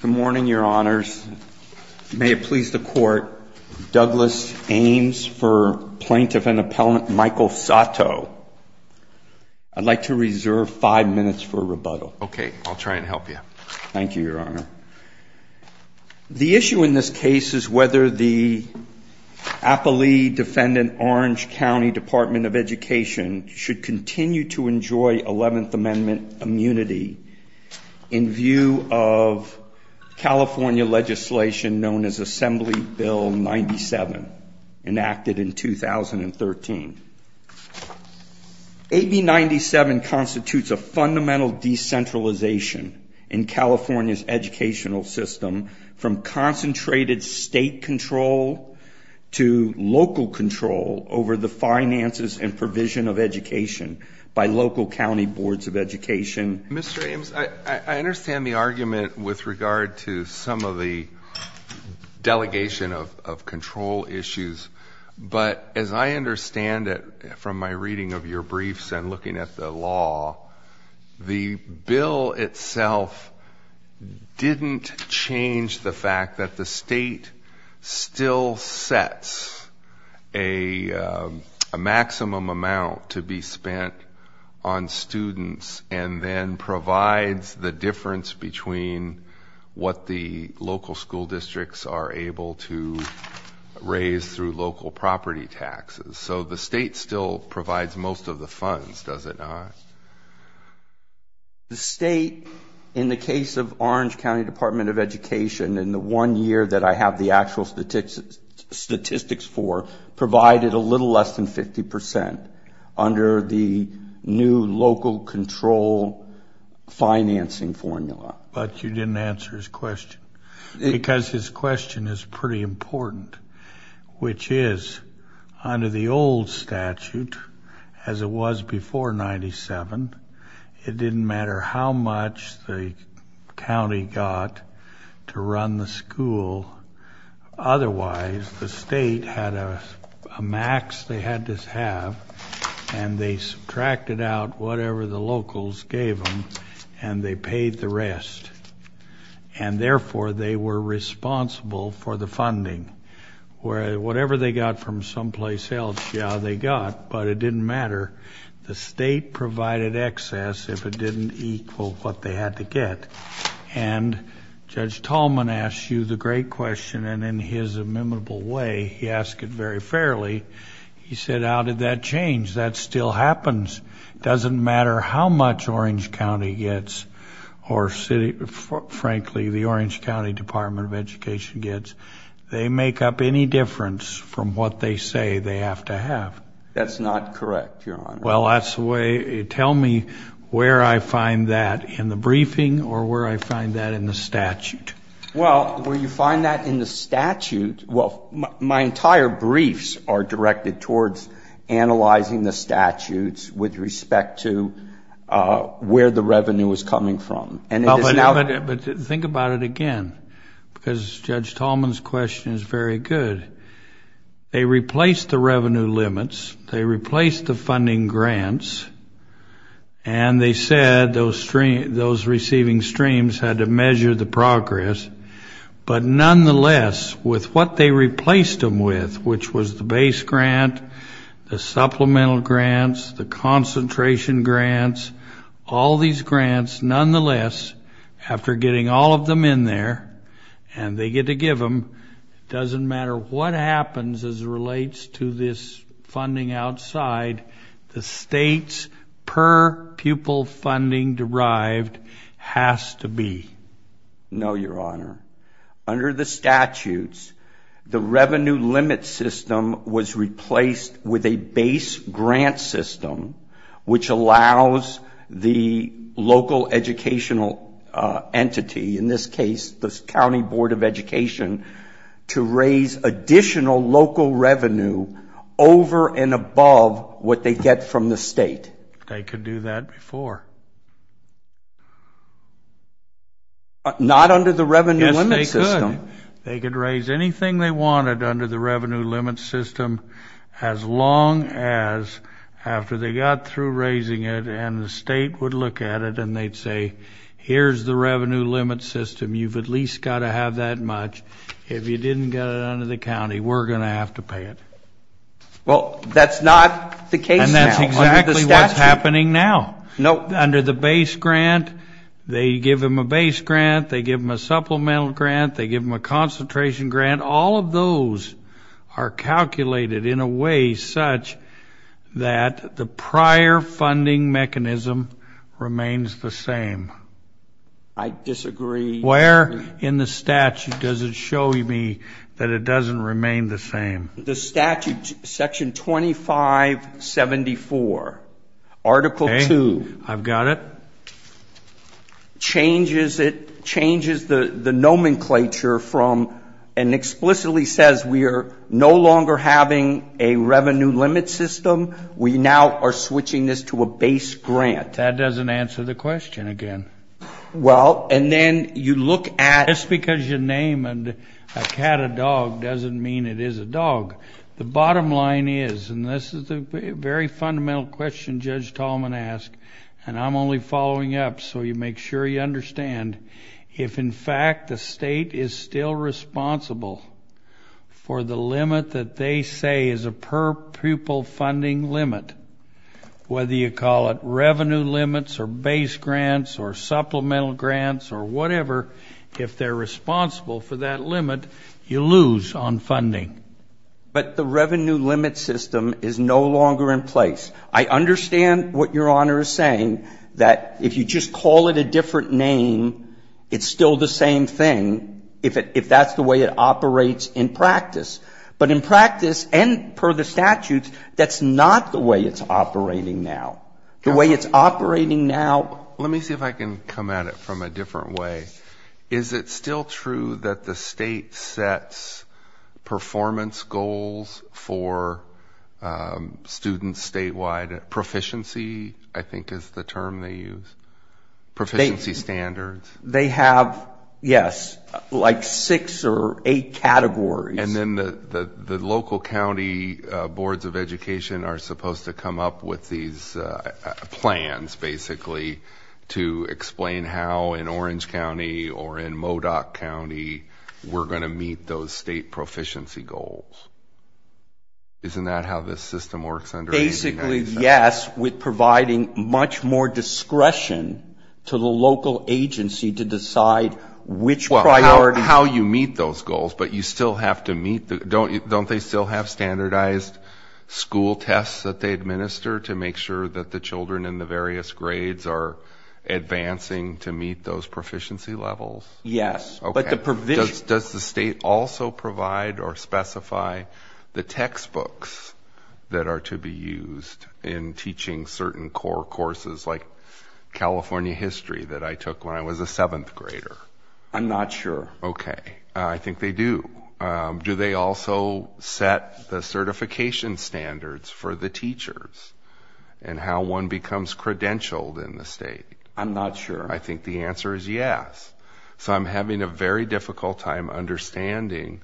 Good morning, Your Honors. May it please the Court, Douglas Ames v. Plaintiff-Appellant Michael Sato. I'd like to reserve five minutes for rebuttal. Okay, I'll try and help you. Thank you, Your Honor. The issue in this case is whether the appellee defendant, Orange County Dept. of Education, should continue to enjoy Eleventh Amendment immunity in view of California legislation known as Assembly Bill 97, enacted in 2013. AB 97 constitutes a fundamental decentralization in California's educational system from concentrated state control to local control over the finances and provision of education by local county boards of education. Mr. Ames, I understand the argument with regard to some of the delegation of control issues, but as I understand it from my reading of your briefs and looking at the law, the bill itself didn't change the fact that the state still sets a maximum amount to be spent on students and then provides the difference between what the local school districts are able to raise through local property taxes. So the state still provides most of the funds, does it not? The state, in the case of Orange County Dept. of Education, in the one year that I have the actual statistics for, provided a little less than 50 percent under the new local control financing formula. But you didn't answer his question, because his question is pretty important, which is, under the old statute, as it was before 97, it didn't matter how much the county got to run the school. Otherwise, the state had a max they had to have, and they subtracted out whatever the locals gave them, and they paid the rest. And therefore, they were responsible for the funding. Whatever they got from someplace else, yeah, they got, but it didn't matter. The state provided excess if it didn't equal what they had to get. And Judge Tallman asked you the great question, and in his amicable way, he asked it very fairly. He said, how did that change? That still happens. It doesn't matter how much Orange County gets or, frankly, the Orange County Dept. of Education gets. They make up any difference from what they say they have to have. That's not correct, Your Honor. Well, that's the way. Tell me where I find that in the briefing or where I find that in the statute. Well, where you find that in the statute, well, my entire briefs are directed towards analyzing the statutes with respect to where the revenue is coming from. But think about it again, because Judge Tallman's question is very good. They replaced the revenue limits. They replaced the funding grants, and they said those receiving streams had to measure the progress. But nonetheless, with what they replaced them with, which was the base grant, the supplemental grants, the concentration grants, all these grants, nonetheless, after getting all of them in there and they get to give them, it doesn't matter what happens as it relates to this funding outside. The state's per-pupil funding derived has to be. No, Your Honor. Under the statutes, the revenue limit system was replaced with a base grant system, which allows the local educational entity, in this case the County Board of Education, to raise additional local revenue over and above what they get from the state. They could do that before. Yes, they could. They could raise anything they wanted under the revenue limit system as long as after they got through raising it and the state would look at it and they'd say, here's the revenue limit system. You've at least got to have that much. If you didn't get it under the county, we're going to have to pay it. Well, that's not the case now. And that's exactly what's happening now. Under the base grant, they give them a base grant. They give them a supplemental grant. They give them a concentration grant. All of those are calculated in a way such that the prior funding mechanism remains the same. I disagree. Where in the statute does it show me that it doesn't remain the same? The statute, Section 2574, Article 2. Okay. I've got it. Changes it, changes the nomenclature from and explicitly says we are no longer having a revenue limit system. We now are switching this to a base grant. That doesn't answer the question again. Well, and then you look at. Just because you name a cat a dog doesn't mean it is a dog. The bottom line is, and this is a very fundamental question Judge Tallman asked, and I'm only following up so you make sure you understand. If, in fact, the state is still responsible for the limit that they say is a per-pupil funding limit, whether you call it revenue limits or base grants or supplemental grants or whatever, if they're responsible for that limit, you lose on funding. But the revenue limit system is no longer in place. I understand what Your Honor is saying, that if you just call it a different name, it's still the same thing if that's the way it operates in practice. But in practice and per the statutes, that's not the way it's operating now. The way it's operating now. Let me see if I can come at it from a different way. Is it still true that the state sets performance goals for students statewide? Proficiency, I think, is the term they use. Proficiency standards. They have, yes, like six or eight categories. And then the local county boards of education are supposed to come up with these plans, basically, to explain how in Orange County or in Modoc County we're going to meet those state proficiency goals. Isn't that how this system works under the United States? Basically, yes, with providing much more discretion to the local agency to decide which priorities. Not how you meet those goals, but you still have to meet them. Don't they still have standardized school tests that they administer to make sure that the children in the various grades are advancing to meet those proficiency levels? Yes. Does the state also provide or specify the textbooks that are to be used in teaching certain core courses like California history that I took when I was a seventh grader? I'm not sure. Okay. I think they do. Do they also set the certification standards for the teachers and how one becomes credentialed in the state? I'm not sure. I think the answer is yes. So I'm having a very difficult time understanding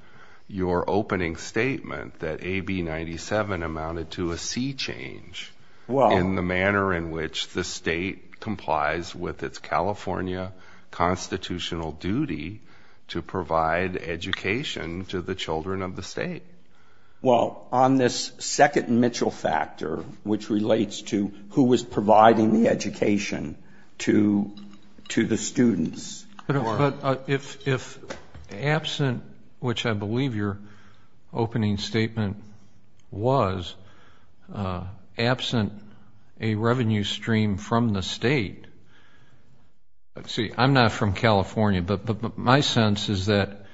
your opening statement that AB 97 amounted to a C change in the manner in which the state complies with its California constitutional duty to provide education to the children of the state. Well, on this second Mitchell factor, which relates to who was providing the education to the students. If absent, which I believe your opening statement was, absent a revenue stream from the state. See, I'm not from California, but my sense is that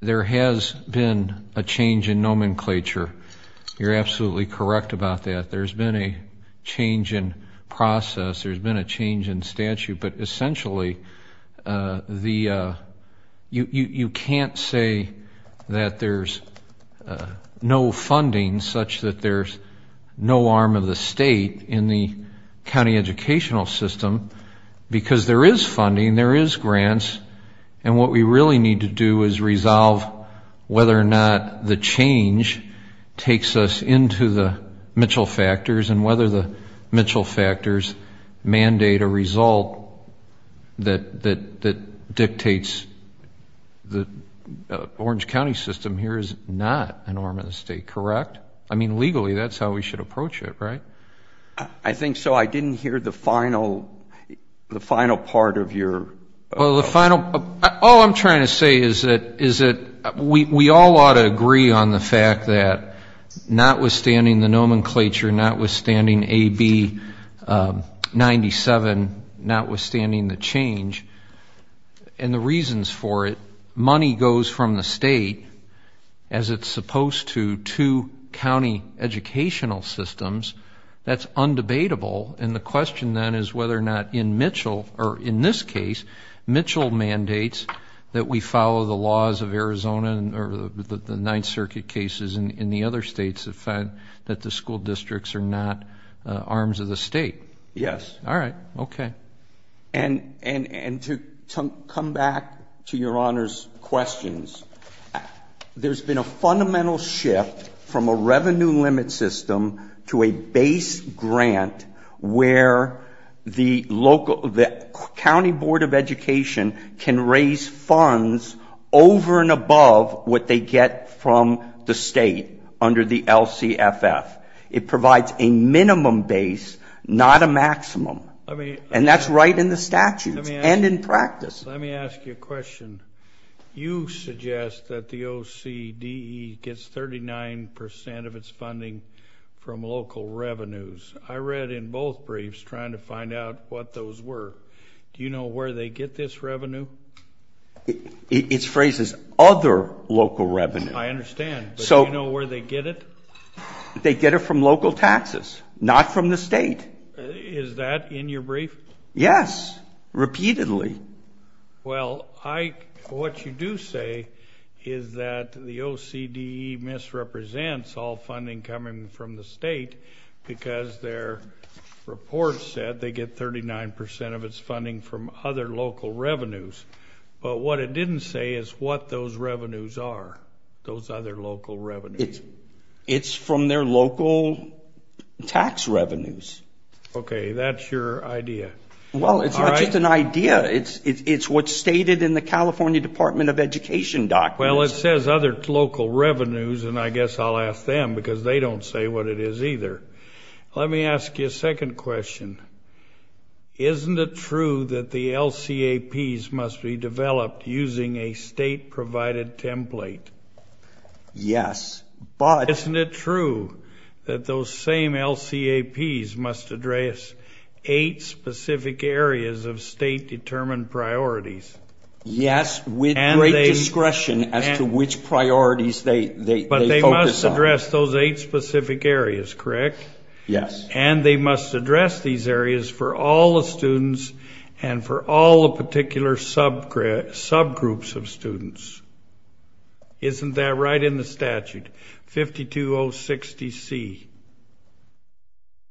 there has been a change in nomenclature. You're absolutely correct about that. There's been a change in process. There's been a change in statute. But essentially, you can't say that there's no funding such that there's no arm of the state in the county educational system because there is funding, there is grants. And what we really need to do is resolve whether or not the change takes us into the Mitchell factors and whether the Mitchell factors mandate a result that dictates the Orange County system here is not an arm of the state. Correct? I mean, legally, that's how we should approach it, right? I think so. I didn't hear the final part of your. All I'm trying to say is that we all ought to agree on the fact that notwithstanding the nomenclature, notwithstanding AB 97, notwithstanding the change and the reasons for it, money goes from the state as it's supposed to to county educational systems. That's undebatable. And the question then is whether or not in Mitchell, or in this case, Mitchell mandates that we follow the laws of Arizona or the Ninth Circuit cases in the other states that the school districts are not arms of the state. Yes. All right. Okay. And to come back to Your Honor's questions, there's been a fundamental shift from a revenue limit system to a base grant where the county board of education can raise funds over and above what they get from the state under the LCFF. It provides a minimum base, not a maximum. And that's right in the statutes and in practice. Let me ask you a question. You suggest that the OCDE gets 39% of its funding from local revenues. I read in both briefs trying to find out what those were. Do you know where they get this revenue? It's phrased as other local revenue. I understand. But do you know where they get it? They get it from local taxes, not from the state. Is that in your brief? Yes, repeatedly. Well, what you do say is that the OCDE misrepresents all funding coming from the state because their report said they get 39% of its funding from other local revenues. But what it didn't say is what those revenues are, those other local revenues. It's from their local tax revenues. Okay. That's your idea. Well, it's not just an idea. It's what's stated in the California Department of Education documents. Well, it says other local revenues, and I guess I'll ask them because they don't say what it is either. Let me ask you a second question. Isn't it true that the LCAPs must be developed using a state-provided template? Yes. Isn't it true that those same LCAPs must address eight specific areas of state-determined priorities? Yes, with great discretion as to which priorities they focus on. But they must address those eight specific areas, correct? Yes. And they must address these areas for all the students and for all the particular subgroups of students. Isn't that right in the statute, 52060C?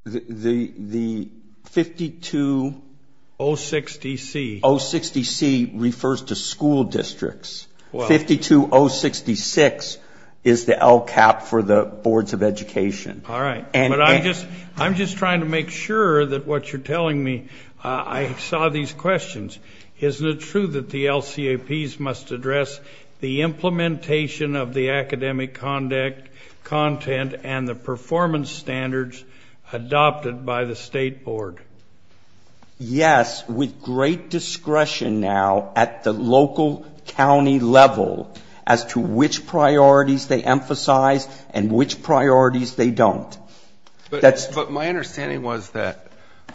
The 52060C refers to school districts. 52066 is the LCAP for the boards of education. All right. But I'm just trying to make sure that what you're telling me, I saw these questions. Isn't it true that the LCAPs must address the implementation of the academic content and the performance standards adopted by the state board? Yes, with great discretion now at the local county level as to which priorities they emphasize and which priorities they don't. But my understanding was that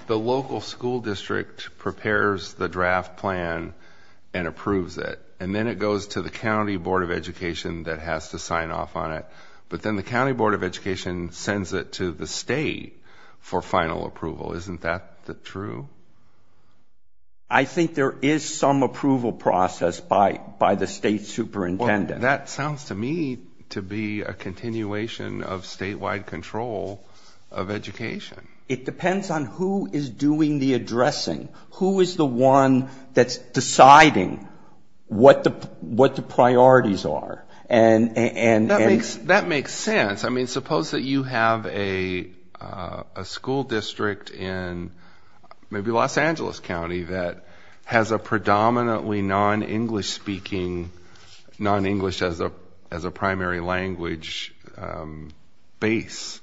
the local school district prepares the draft plan and approves it, and then it goes to the county board of education that has to sign off on it, but then the county board of education sends it to the state for final approval. Isn't that true? I think there is some approval process by the state superintendent. That sounds to me to be a continuation of statewide control of education. It depends on who is doing the addressing. Who is the one that's deciding what the priorities are? That makes sense. I mean, suppose that you have a school district in maybe Los Angeles County that has a predominantly non-English speaking, non-English as a primary language base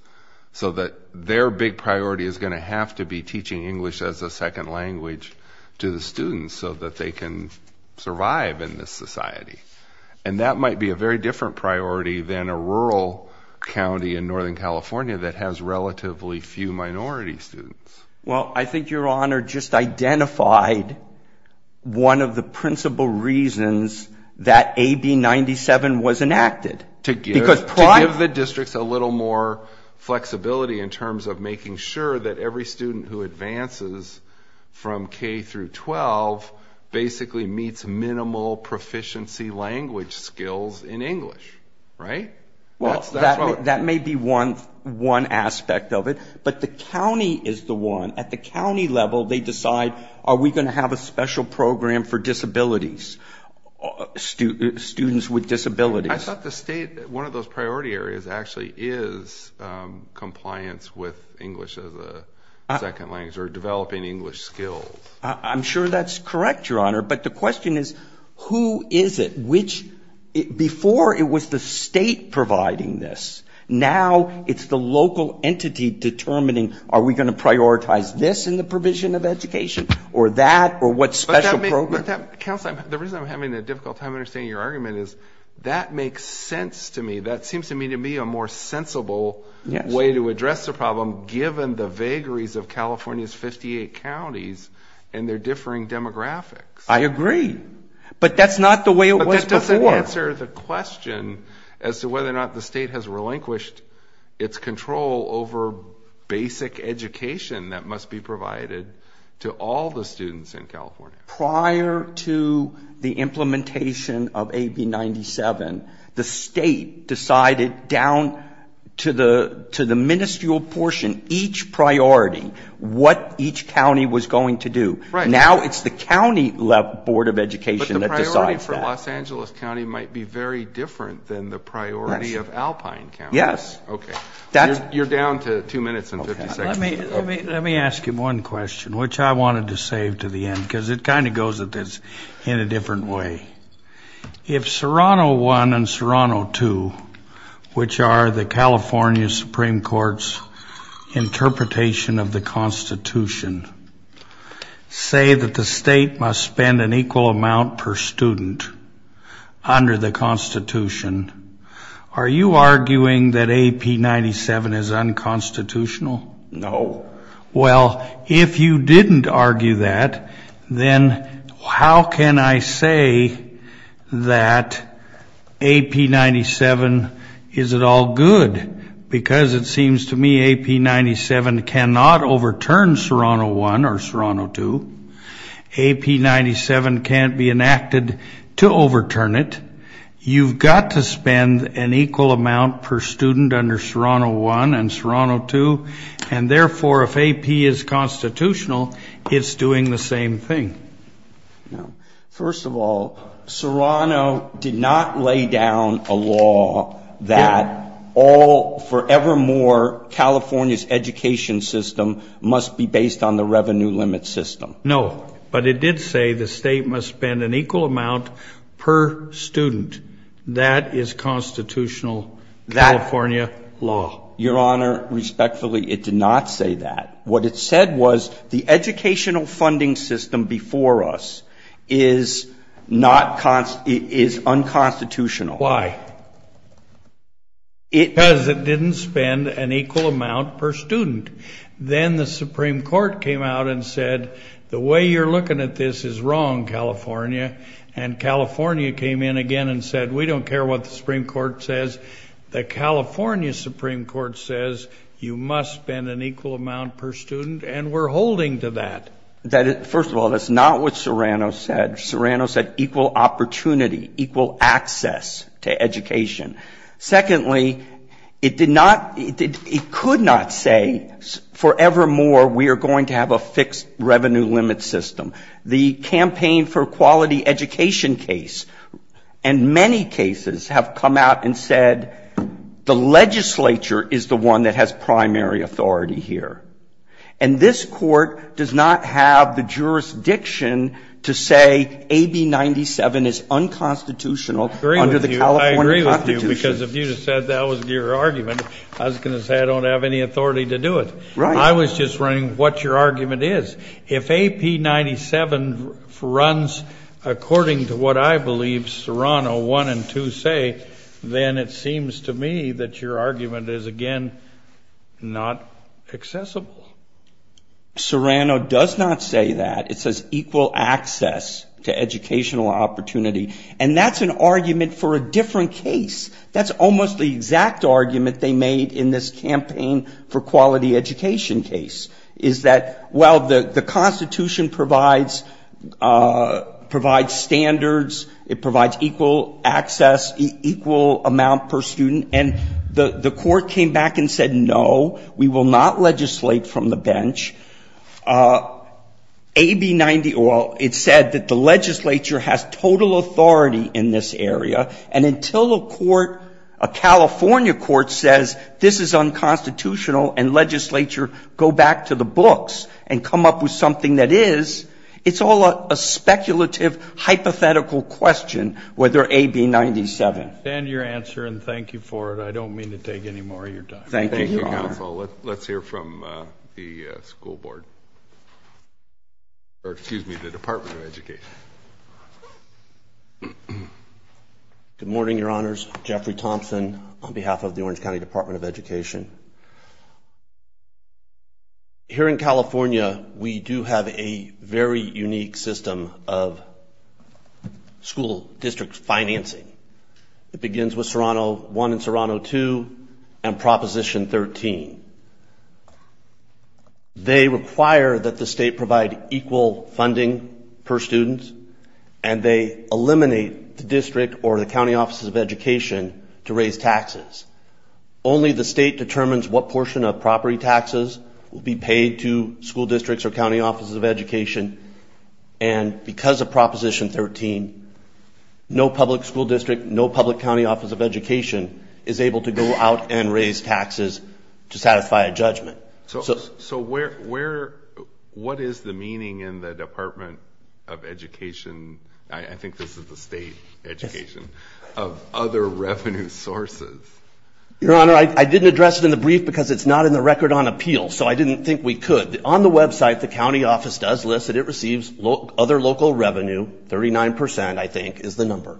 so that their big priority is going to have to be teaching English as a second language to the students so that they can survive in this society. And that might be a very different priority than a rural county in Northern California that has relatively few minority students. Well, I think Your Honor just identified one of the principal reasons that AB 97 was enacted. To give the districts a little more flexibility in terms of making sure that every student who advances from K through 12 basically meets minimal proficiency language skills in English, right? Well, that may be one aspect of it. But the county is the one. At the county level, they decide are we going to have a special program for disabilities, students with disabilities. I thought the state, one of those priority areas actually is compliance with English as a second language or developing English skills. I'm sure that's correct, Your Honor. But the question is who is it? Before it was the state providing this. Now it's the local entity determining are we going to prioritize this in the provision of education or that or what special program. Counsel, the reason I'm having a difficult time understanding your argument is that makes sense to me. That seems to me to be a more sensible way to address the problem given the vagaries of California's 58 counties and their differing demographics. I agree. But that's not the way it was before. But that doesn't answer the question as to whether or not the state has relinquished its control over basic education that must be provided to all the students in California. Prior to the implementation of AB 97, the state decided down to the ministerial portion, each priority, what each county was going to do. Now it's the county board of education that decides that. But the priority for Los Angeles County might be very different than the priority of Alpine County. Yes. Okay. You're down to two minutes and 50 seconds. Let me ask you one question, which I wanted to save to the end because it kind of goes in a different way. If Serrano 1 and Serrano 2, which are the California Supreme Court's interpretation of the Constitution, say that the state must spend an equal amount per student under the Constitution, are you arguing that AB 97 is unconstitutional? No. Well, if you didn't argue that, then how can I say that AB 97 is at all good? Because it seems to me AB 97 cannot overturn Serrano 1 or Serrano 2. AB 97 can't be enacted to overturn it. You've got to spend an equal amount per student under Serrano 1 and Serrano 2. And, therefore, if AP is constitutional, it's doing the same thing. First of all, Serrano did not lay down a law that all forevermore California's education system must be based on the revenue limit system. No. But it did say the state must spend an equal amount per student. That is constitutional California law. Your Honor, respectfully, it did not say that. What it said was the educational funding system before us is unconstitutional. Why? Because it didn't spend an equal amount per student. Then the Supreme Court came out and said, the way you're looking at this is wrong, California. And California came in again and said, we don't care what the Supreme Court says. The California Supreme Court says you must spend an equal amount per student, and we're holding to that. First of all, that's not what Serrano said. Serrano said equal opportunity, equal access to education. Secondly, it did not, it could not say forevermore we are going to have a fixed revenue limit system. The campaign for quality education case and many cases have come out and said the legislature is the one that has primary authority here. And this Court does not have the jurisdiction to say AB 97 is unconstitutional under the California Constitution. I agree with you, because if you just said that was your argument, I was going to say I don't have any authority to do it. Right. I was just running what your argument is. If AB 97 runs according to what I believe Serrano 1 and 2 say, then it seems to me that your argument is, again, not accessible. Serrano does not say that. It says equal access to educational opportunity. And that's an argument for a different case. That's almost the exact argument they made in this campaign for quality education case, is that, well, the Constitution provides standards. It provides equal access, equal amount per student. And the Court came back and said, no, we will not legislate from the bench. AB 90, well, it said that the legislature has total authority in this area. And until a court, a California court says this is unconstitutional and legislature go back to the books and come up with something that is, it's all a speculative hypothetical question whether AB 97. I stand to your answer and thank you for it. I don't mean to take any more of your time. Thank you. Thank you, counsel. Let's hear from the school board. Or excuse me, the Department of Education. Good morning, Your Honors. Jeffrey Thompson on behalf of the Orange County Department of Education. Here in California, we do have a very unique system of school district financing. It begins with Serrano 1 and Serrano 2 and Proposition 13. They require that the state provide equal funding per student. And they eliminate the district or the county offices of education to raise taxes. Only the state determines what portion of property taxes will be paid to school districts or county offices of education. And because of Proposition 13, no public school district, no public county office of education is able to go out and raise taxes to satisfy a judgment. So what is the meaning in the Department of Education, I think this is the state education, of other revenue sources? Your Honor, I didn't address it in the brief because it's not in the record on appeal. So I didn't think we could. But on the website, the county office does list that it receives other local revenue. Thirty-nine percent, I think, is the number.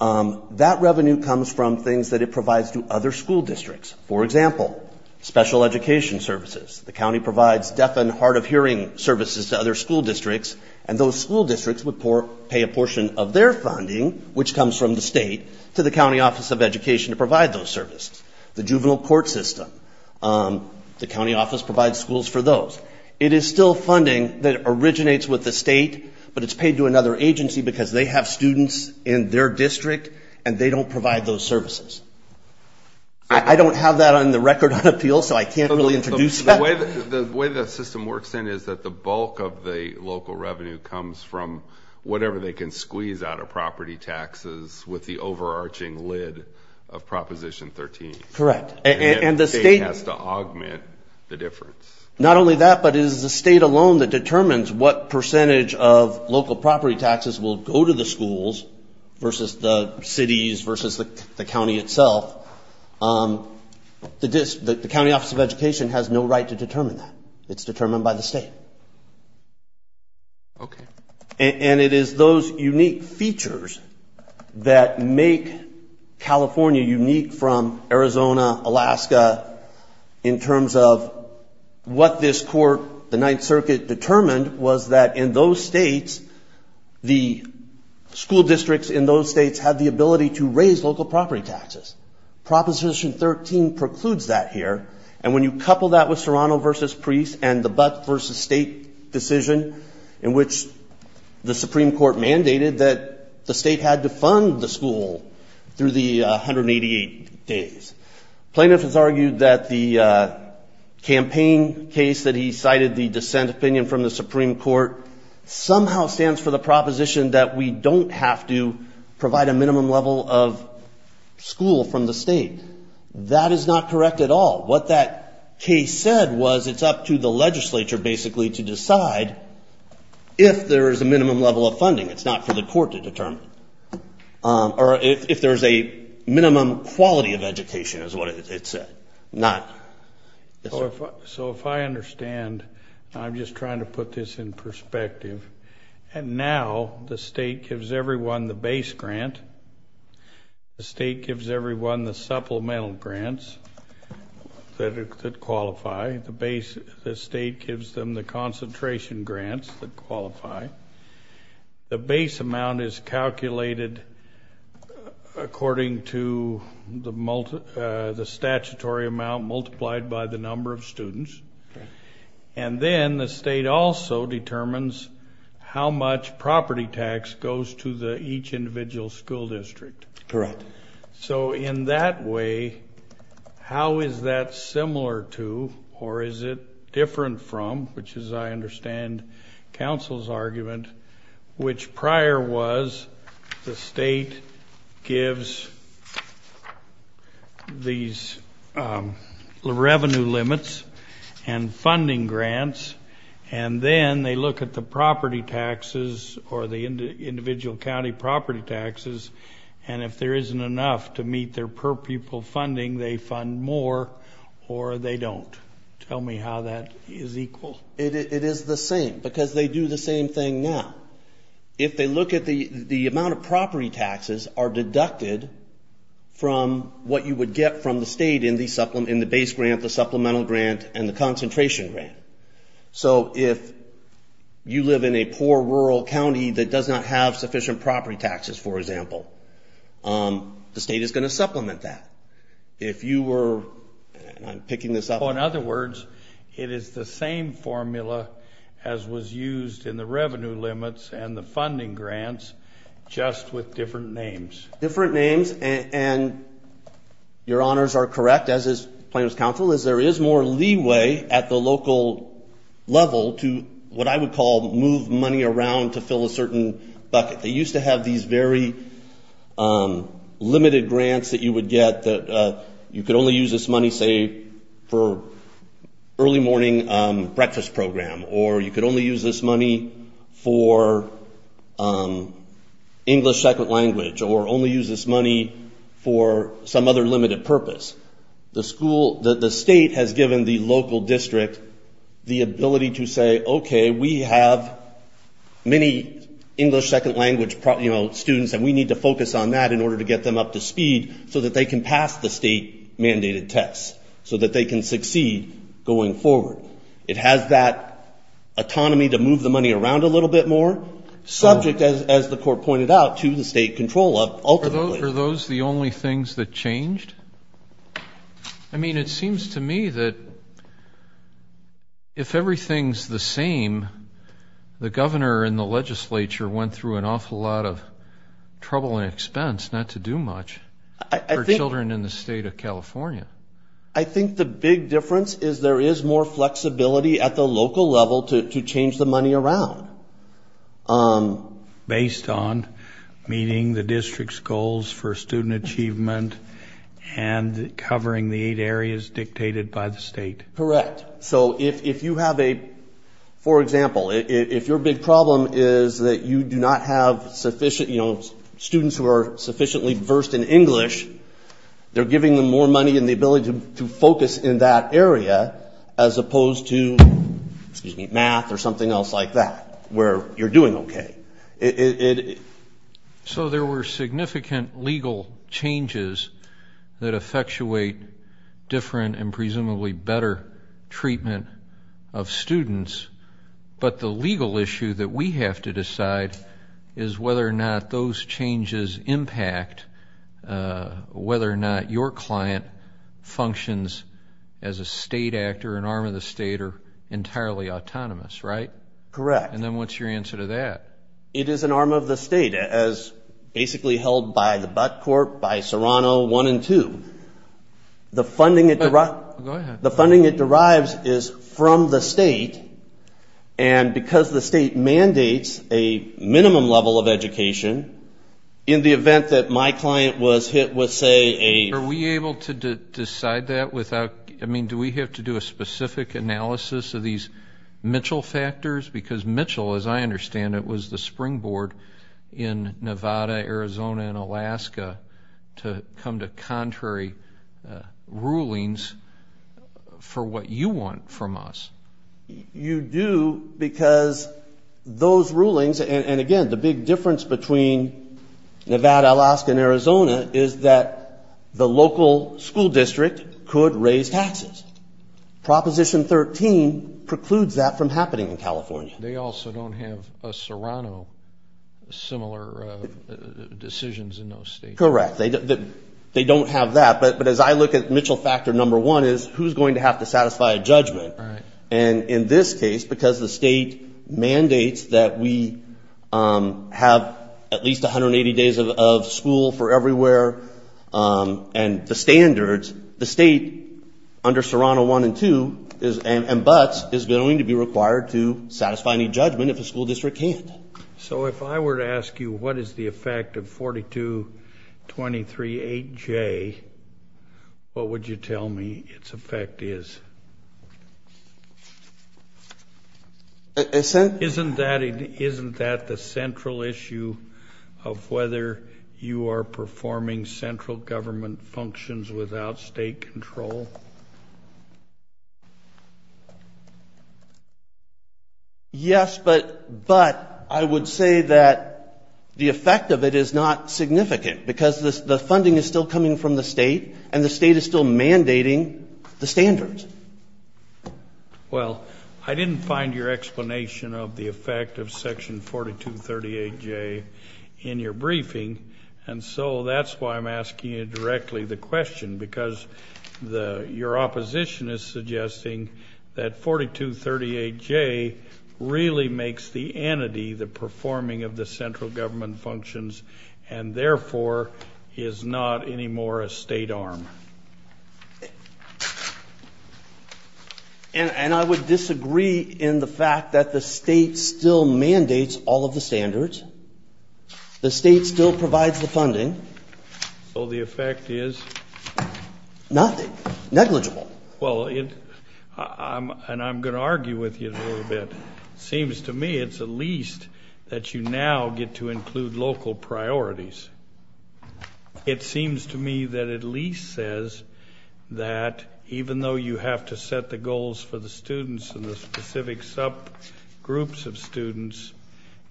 That revenue comes from things that it provides to other school districts. For example, special education services. The county provides deaf and hard of hearing services to other school districts. And those school districts would pay a portion of their funding, which comes from the state, to the county office of education to provide those services. The juvenile court system. The county office provides schools for those. It is still funding that originates with the state, but it's paid to another agency because they have students in their district, and they don't provide those services. I don't have that on the record on appeal, so I can't really introduce that. The way the system works then is that the bulk of the local revenue comes from whatever they can squeeze out of property taxes with the overarching lid of Proposition 13. Correct. And the state has to augment the difference. Not only that, but it is the state alone that determines what percentage of local property taxes will go to the schools versus the cities versus the county itself. The county office of education has no right to determine that. It's determined by the state. Okay. And it is those unique features that make California unique from Arizona, Alaska, in terms of what this court, the Ninth Circuit, determined was that in those states, the school districts in those states have the ability to raise local property taxes. Proposition 13 precludes that here. And when you couple that with Serrano versus Priest and the Buck versus State decision, in which the Supreme Court mandated that the state had to fund the school through the 188 days, plaintiffs have argued that the campaign case that he cited, the dissent opinion from the Supreme Court, somehow stands for the proposition that we don't have to provide a minimum level of school from the state. That is not correct at all. What that case said was it's up to the legislature, basically, to decide if there is a minimum level of funding. It's not for the court to determine. Or if there's a minimum quality of education is what it said. So if I understand, I'm just trying to put this in perspective. And now the state gives everyone the base grant. The state gives everyone the supplemental grants that qualify. The state gives them the concentration grants that qualify. The base amount is calculated according to the statutory amount multiplied by the number of students. And then the state also determines how much property tax goes to each individual school district. Correct. So in that way, how is that similar to or is it different from, which is, I understand, counsel's argument, which prior was the state gives these revenue limits and funding grants, and then they look at the property taxes or the individual county property taxes, and if there isn't enough to meet their per-pupil funding, they fund more or they don't. Tell me how that is equal. It is the same because they do the same thing now. If they look at the amount of property taxes are deducted from what you would get from the state in the base grant, the supplemental grant, and the concentration grant. So if you live in a poor rural county that does not have sufficient property taxes, for example, the state is going to supplement that. If you were, and I'm picking this up. Oh, in other words, it is the same formula as was used in the revenue limits and the funding grants, just with different names. Different names, and your honors are correct, as is plaintiff's counsel, is there is more leeway at the local level to what I would call move money around to fill a certain bucket. They used to have these very limited grants that you would get that you could only use this money, say, for early morning breakfast program, or you could only use this money for English second language, or only use this money for some other limited purpose. The state has given the local district the ability to say, okay, we have many English second language students and we need to focus on that in order to get them up to speed so that they can pass the state-mandated tests, so that they can succeed going forward. It has that autonomy to move the money around a little bit more, subject, as the court pointed out, to the state control of ultimately. Are those the only things that changed? I mean, it seems to me that if everything's the same, the governor and the legislature went through an awful lot of trouble and expense not to do much for children in the state of California. I think the big difference is there is more flexibility at the local level to change the money around. Based on meeting the district's goals for student achievement and covering the eight areas dictated by the state. Correct. So if you have a, for example, if your big problem is that you do not have sufficient, you know, students who are sufficiently versed in English, they're giving them more money and the ability to focus in that area as opposed to, excuse me, math or something else like that, where you're doing okay. So there were significant legal changes that effectuate different and presumably better treatment of students, but the legal issue that we have to decide is whether or not those changes impact whether or not your client functions as a state actor, an arm of the state, or entirely autonomous, right? Correct. And then what's your answer to that? It is an arm of the state, as basically held by the butt court, by Serrano 1 and 2. The funding it derives is from the state, and because the state mandates a minimum level of education, in the event that my client was hit with, say, a Are we able to decide that without, I mean, do we have to do a specific analysis of these Mitchell factors? Because Mitchell, as I understand it, was the springboard in Nevada, Arizona, and Alaska to come to contrary rulings for what you want from us. You do because those rulings, and again, the big difference between Nevada, Alaska, and Arizona, is that the local school district could raise taxes. Proposition 13 precludes that from happening in California. They also don't have a Serrano, similar decisions in those states. Correct. They don't have that. But as I look at Mitchell factor number one is, who's going to have to satisfy a judgment? And in this case, because the state mandates that we have at least 180 days of school for everywhere, and the standards, the state under Serrano one and two, and buts, is going to be required to satisfy any judgment if a school district can't. So if I were to ask you what is the effect of 42238J, what would you tell me its effect is? Isn't that the central issue of whether you are performing central government functions without state control? Yes, but I would say that the effect of it is not significant because the funding is still coming from the state, and the state is still mandating the standards. Well, I didn't find your explanation of the effect of section 4238J in your briefing, and so that's why I'm asking you directly the question, because your opposition is suggesting that 4238J really makes the entity, the performing of the central government functions, and therefore is not anymore a state arm. And I would disagree in the fact that the state still mandates all of the standards. The state still provides the funding. So the effect is? Nothing. Negligible. Well, and I'm going to argue with you a little bit. It seems to me it's at least that you now get to include local priorities. It seems to me that at least says that even though you have to set the goals for the students and the specific subgroups of students,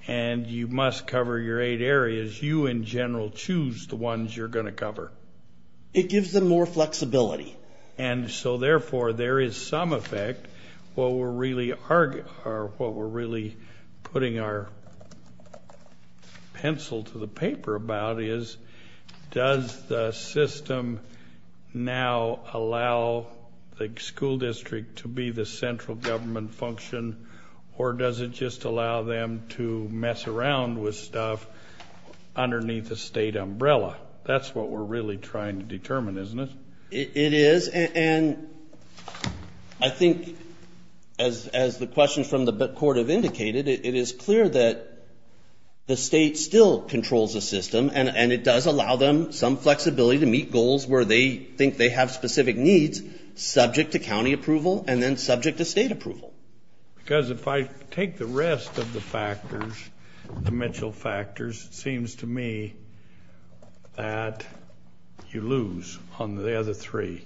and you must cover your eight areas, you in general choose the ones you're going to cover. It gives them more flexibility. And so, therefore, there is some effect. What we're really putting our pencil to the paper about is, does the system now allow the school district to be the central government function, or does it just allow them to mess around with stuff underneath the state umbrella? That's what we're really trying to determine, isn't it? It is. And I think, as the questions from the court have indicated, it is clear that the state still controls the system, and it does allow them some flexibility to meet goals where they think they have specific needs, subject to county approval and then subject to state approval. Because if I take the rest of the factors, the Mitchell factors, it seems to me that you lose on the other three.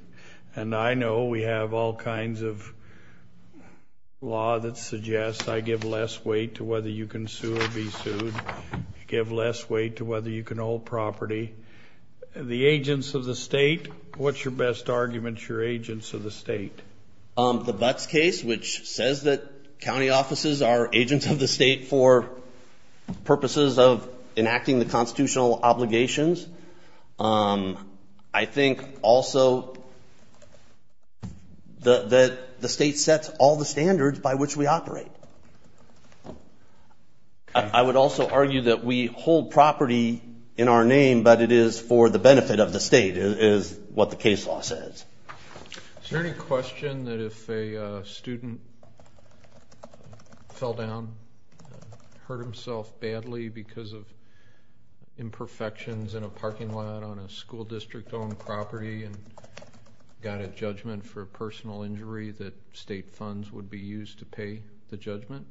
And I know we have all kinds of law that suggests I give less weight to whether you can sue or be sued, give less weight to whether you can hold property. The agents of the state, what's your best argument that you're agents of the state? The Butts case, which says that county offices are agents of the state for purposes of enacting the constitutional obligations. I think also that the state sets all the standards by which we operate. I would also argue that we hold property in our name, but it is for the benefit of the state, is what the case law says. Is there any question that if a student fell down and hurt himself badly because of imperfections in a parking lot on a school district-owned property and got a judgment for a personal injury that state funds would be used to pay the judgment?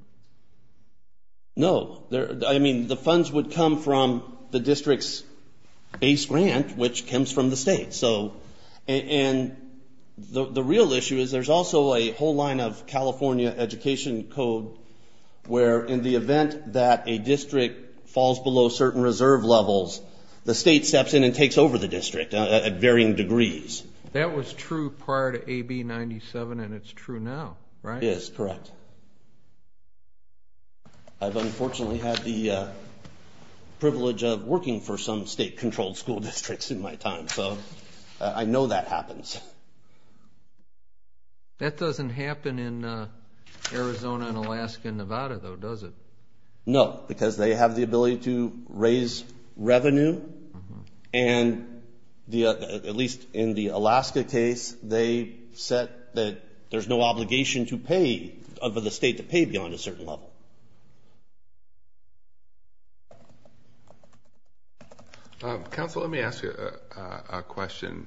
No. I mean, the funds would come from the district's base grant, which comes from the state. And the real issue is there's also a whole line of California education code where in the event that a district falls below certain reserve levels, the state steps in and takes over the district at varying degrees. That was true prior to AB-97, and it's true now, right? It is, correct. I've unfortunately had the privilege of working for some state-controlled school districts in my time, so I know that happens. That doesn't happen in Arizona and Alaska and Nevada, though, does it? No, because they have the ability to raise revenue, and at least in the Alaska case, they said that there's no obligation to pay, for the state to pay beyond a certain level. Counsel, let me ask you a question,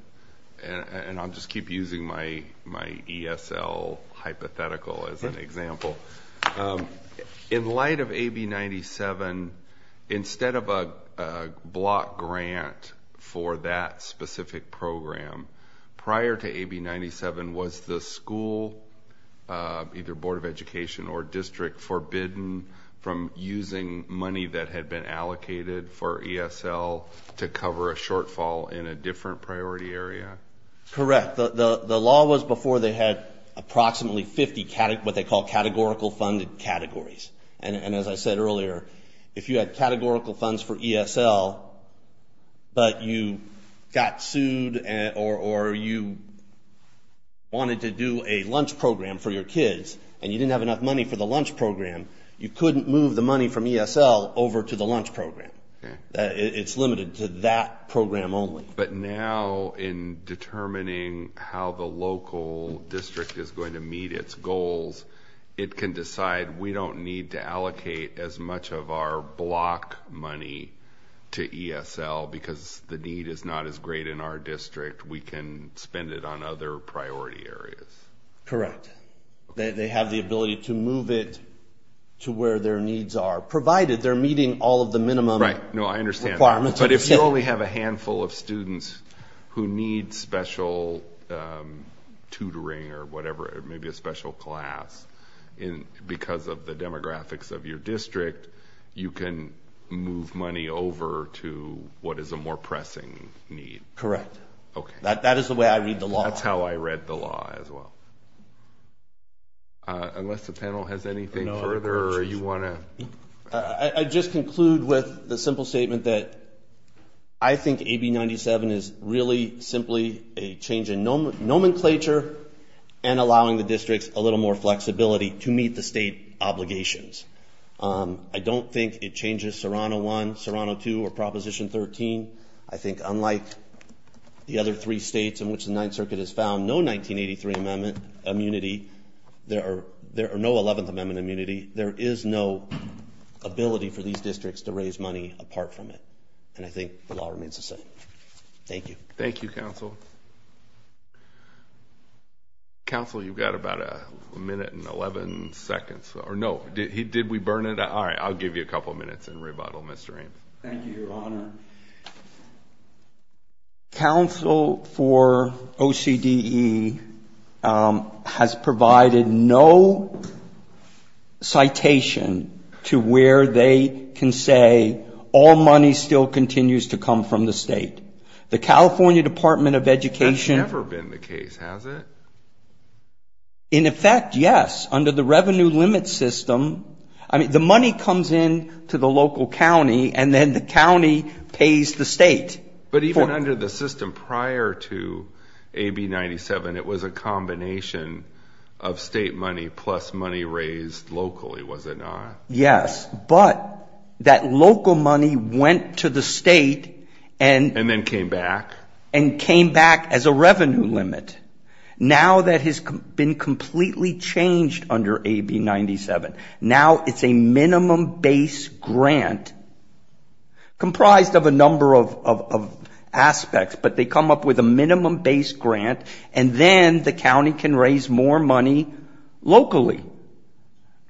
and I'll just keep using my ESL hypothetical as an example. In light of AB-97, instead of a block grant for that specific program, prior to AB-97, was the school, either Board of Education or district, forbidden from using money that had been allocated for ESL to cover a shortfall in a different priority area? Correct. The law was before they had approximately 50 what they call categorical funded categories, and as I said earlier, if you had categorical funds for ESL but you got sued or you wanted to do a lunch program for your kids and you didn't have enough money for the lunch program, you couldn't move the money from ESL over to the lunch program. It's limited to that program only. But now in determining how the local district is going to meet its goals, it can decide we don't need to allocate as much of our block money to ESL because the need is not as great in our district. We can spend it on other priority areas. Correct. They have the ability to move it to where their needs are, provided they're meeting all of the minimum requirements. No, I understand. But if you only have a handful of students who need special tutoring or whatever, maybe a special class because of the demographics of your district, you can move money over to what is a more pressing need. Correct. Okay. That is the way I read the law. That's how I read the law as well. Unless the panel has anything further or you want to… I just conclude with the simple statement that I think AB 97 is really simply a change in nomenclature and allowing the districts a little more flexibility to meet the state obligations. I don't think it changes Serrano 1, Serrano 2, or Proposition 13. I think unlike the other three states in which the Ninth Circuit has found no 1983 Amendment immunity, there are no Eleventh Amendment immunity. There is no ability for these districts to raise money apart from it. And I think the law remains the same. Thank you. Thank you, Counsel. Counsel, you've got about a minute and 11 seconds. Did we burn it? All right. I'll give you a couple of minutes and rebuttal, Mr. Ames. Thank you, Your Honor. Counsel, for OCDE, has provided no citation to where they can say all money still continues to come from the state. The California Department of Education… That's never been the case, has it? In effect, yes. Under the revenue limit system, the money comes in to the local county, and then the county pays the state. But even under the system prior to AB 97, it was a combination of state money plus money raised locally, was it not? Yes. But that local money went to the state and… And then came back? And came back as a revenue limit. Now that has been completely changed under AB 97. Now it's a minimum base grant comprised of a number of aspects. But they come up with a minimum base grant, and then the county can raise more money locally.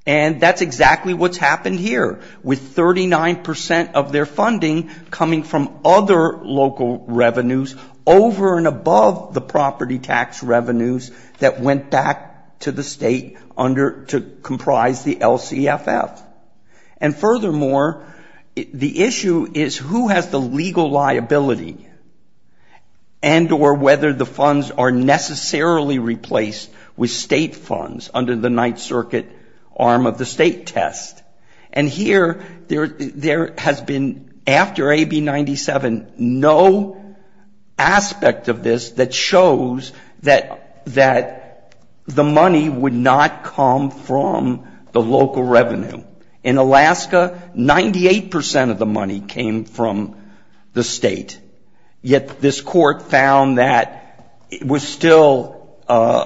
And that's exactly what's happened here. With 39 percent of their funding coming from other local revenues over and above the property tax revenues that went back to the state to comprise the LCFF. And furthermore, the issue is who has the legal liability and or whether the funds are necessarily replaced with state funds under the Ninth Circuit arm of the state test. And here there has been, after AB 97, no aspect of this that shows that the money would not come from the local revenue. In Alaska, 98 percent of the money came from the state. Yet this court found that it was still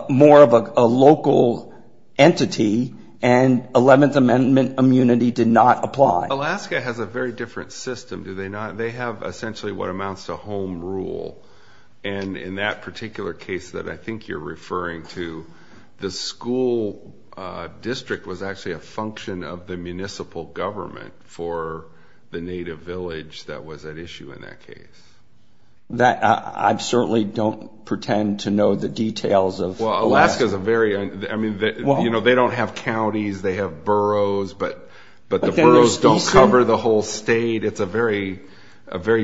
more of a local entity, and Eleventh Amendment immunity did not apply. Alaska has a very different system, do they not? They have essentially what amounts to home rule. And in that particular case that I think you're referring to, the school district was actually a function of the municipal government for the native village that was at issue in that case. I certainly don't pretend to know the details of Alaska. They don't have counties, they have boroughs, but the boroughs don't cover the whole state. It's a very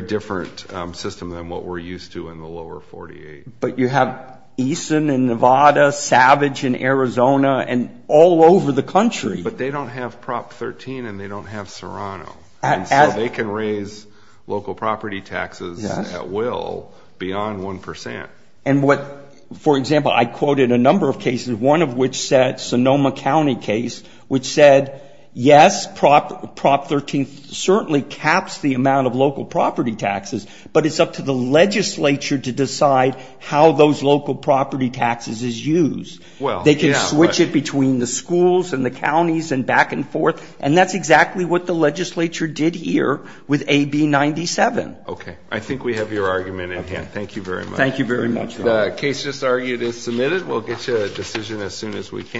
different system than what we're used to in the lower 48. But you have Easton in Nevada, Savage in Arizona, and all over the country. But they don't have Prop 13 and they don't have Serrano. And so they can raise local property taxes at will beyond 1 percent. And what, for example, I quoted a number of cases, one of which said, Sonoma County case, which said, yes, Prop 13 certainly caps the amount of local property taxes. But it's up to the legislature to decide how those local property taxes is used. They can switch it between the schools and the counties and back and forth. And that's exactly what the legislature did here with AB 97. Okay. I think we have your argument in hand. Thank you very much. Thank you very much. The case just argued is submitted. We'll get you a decision as soon as we can.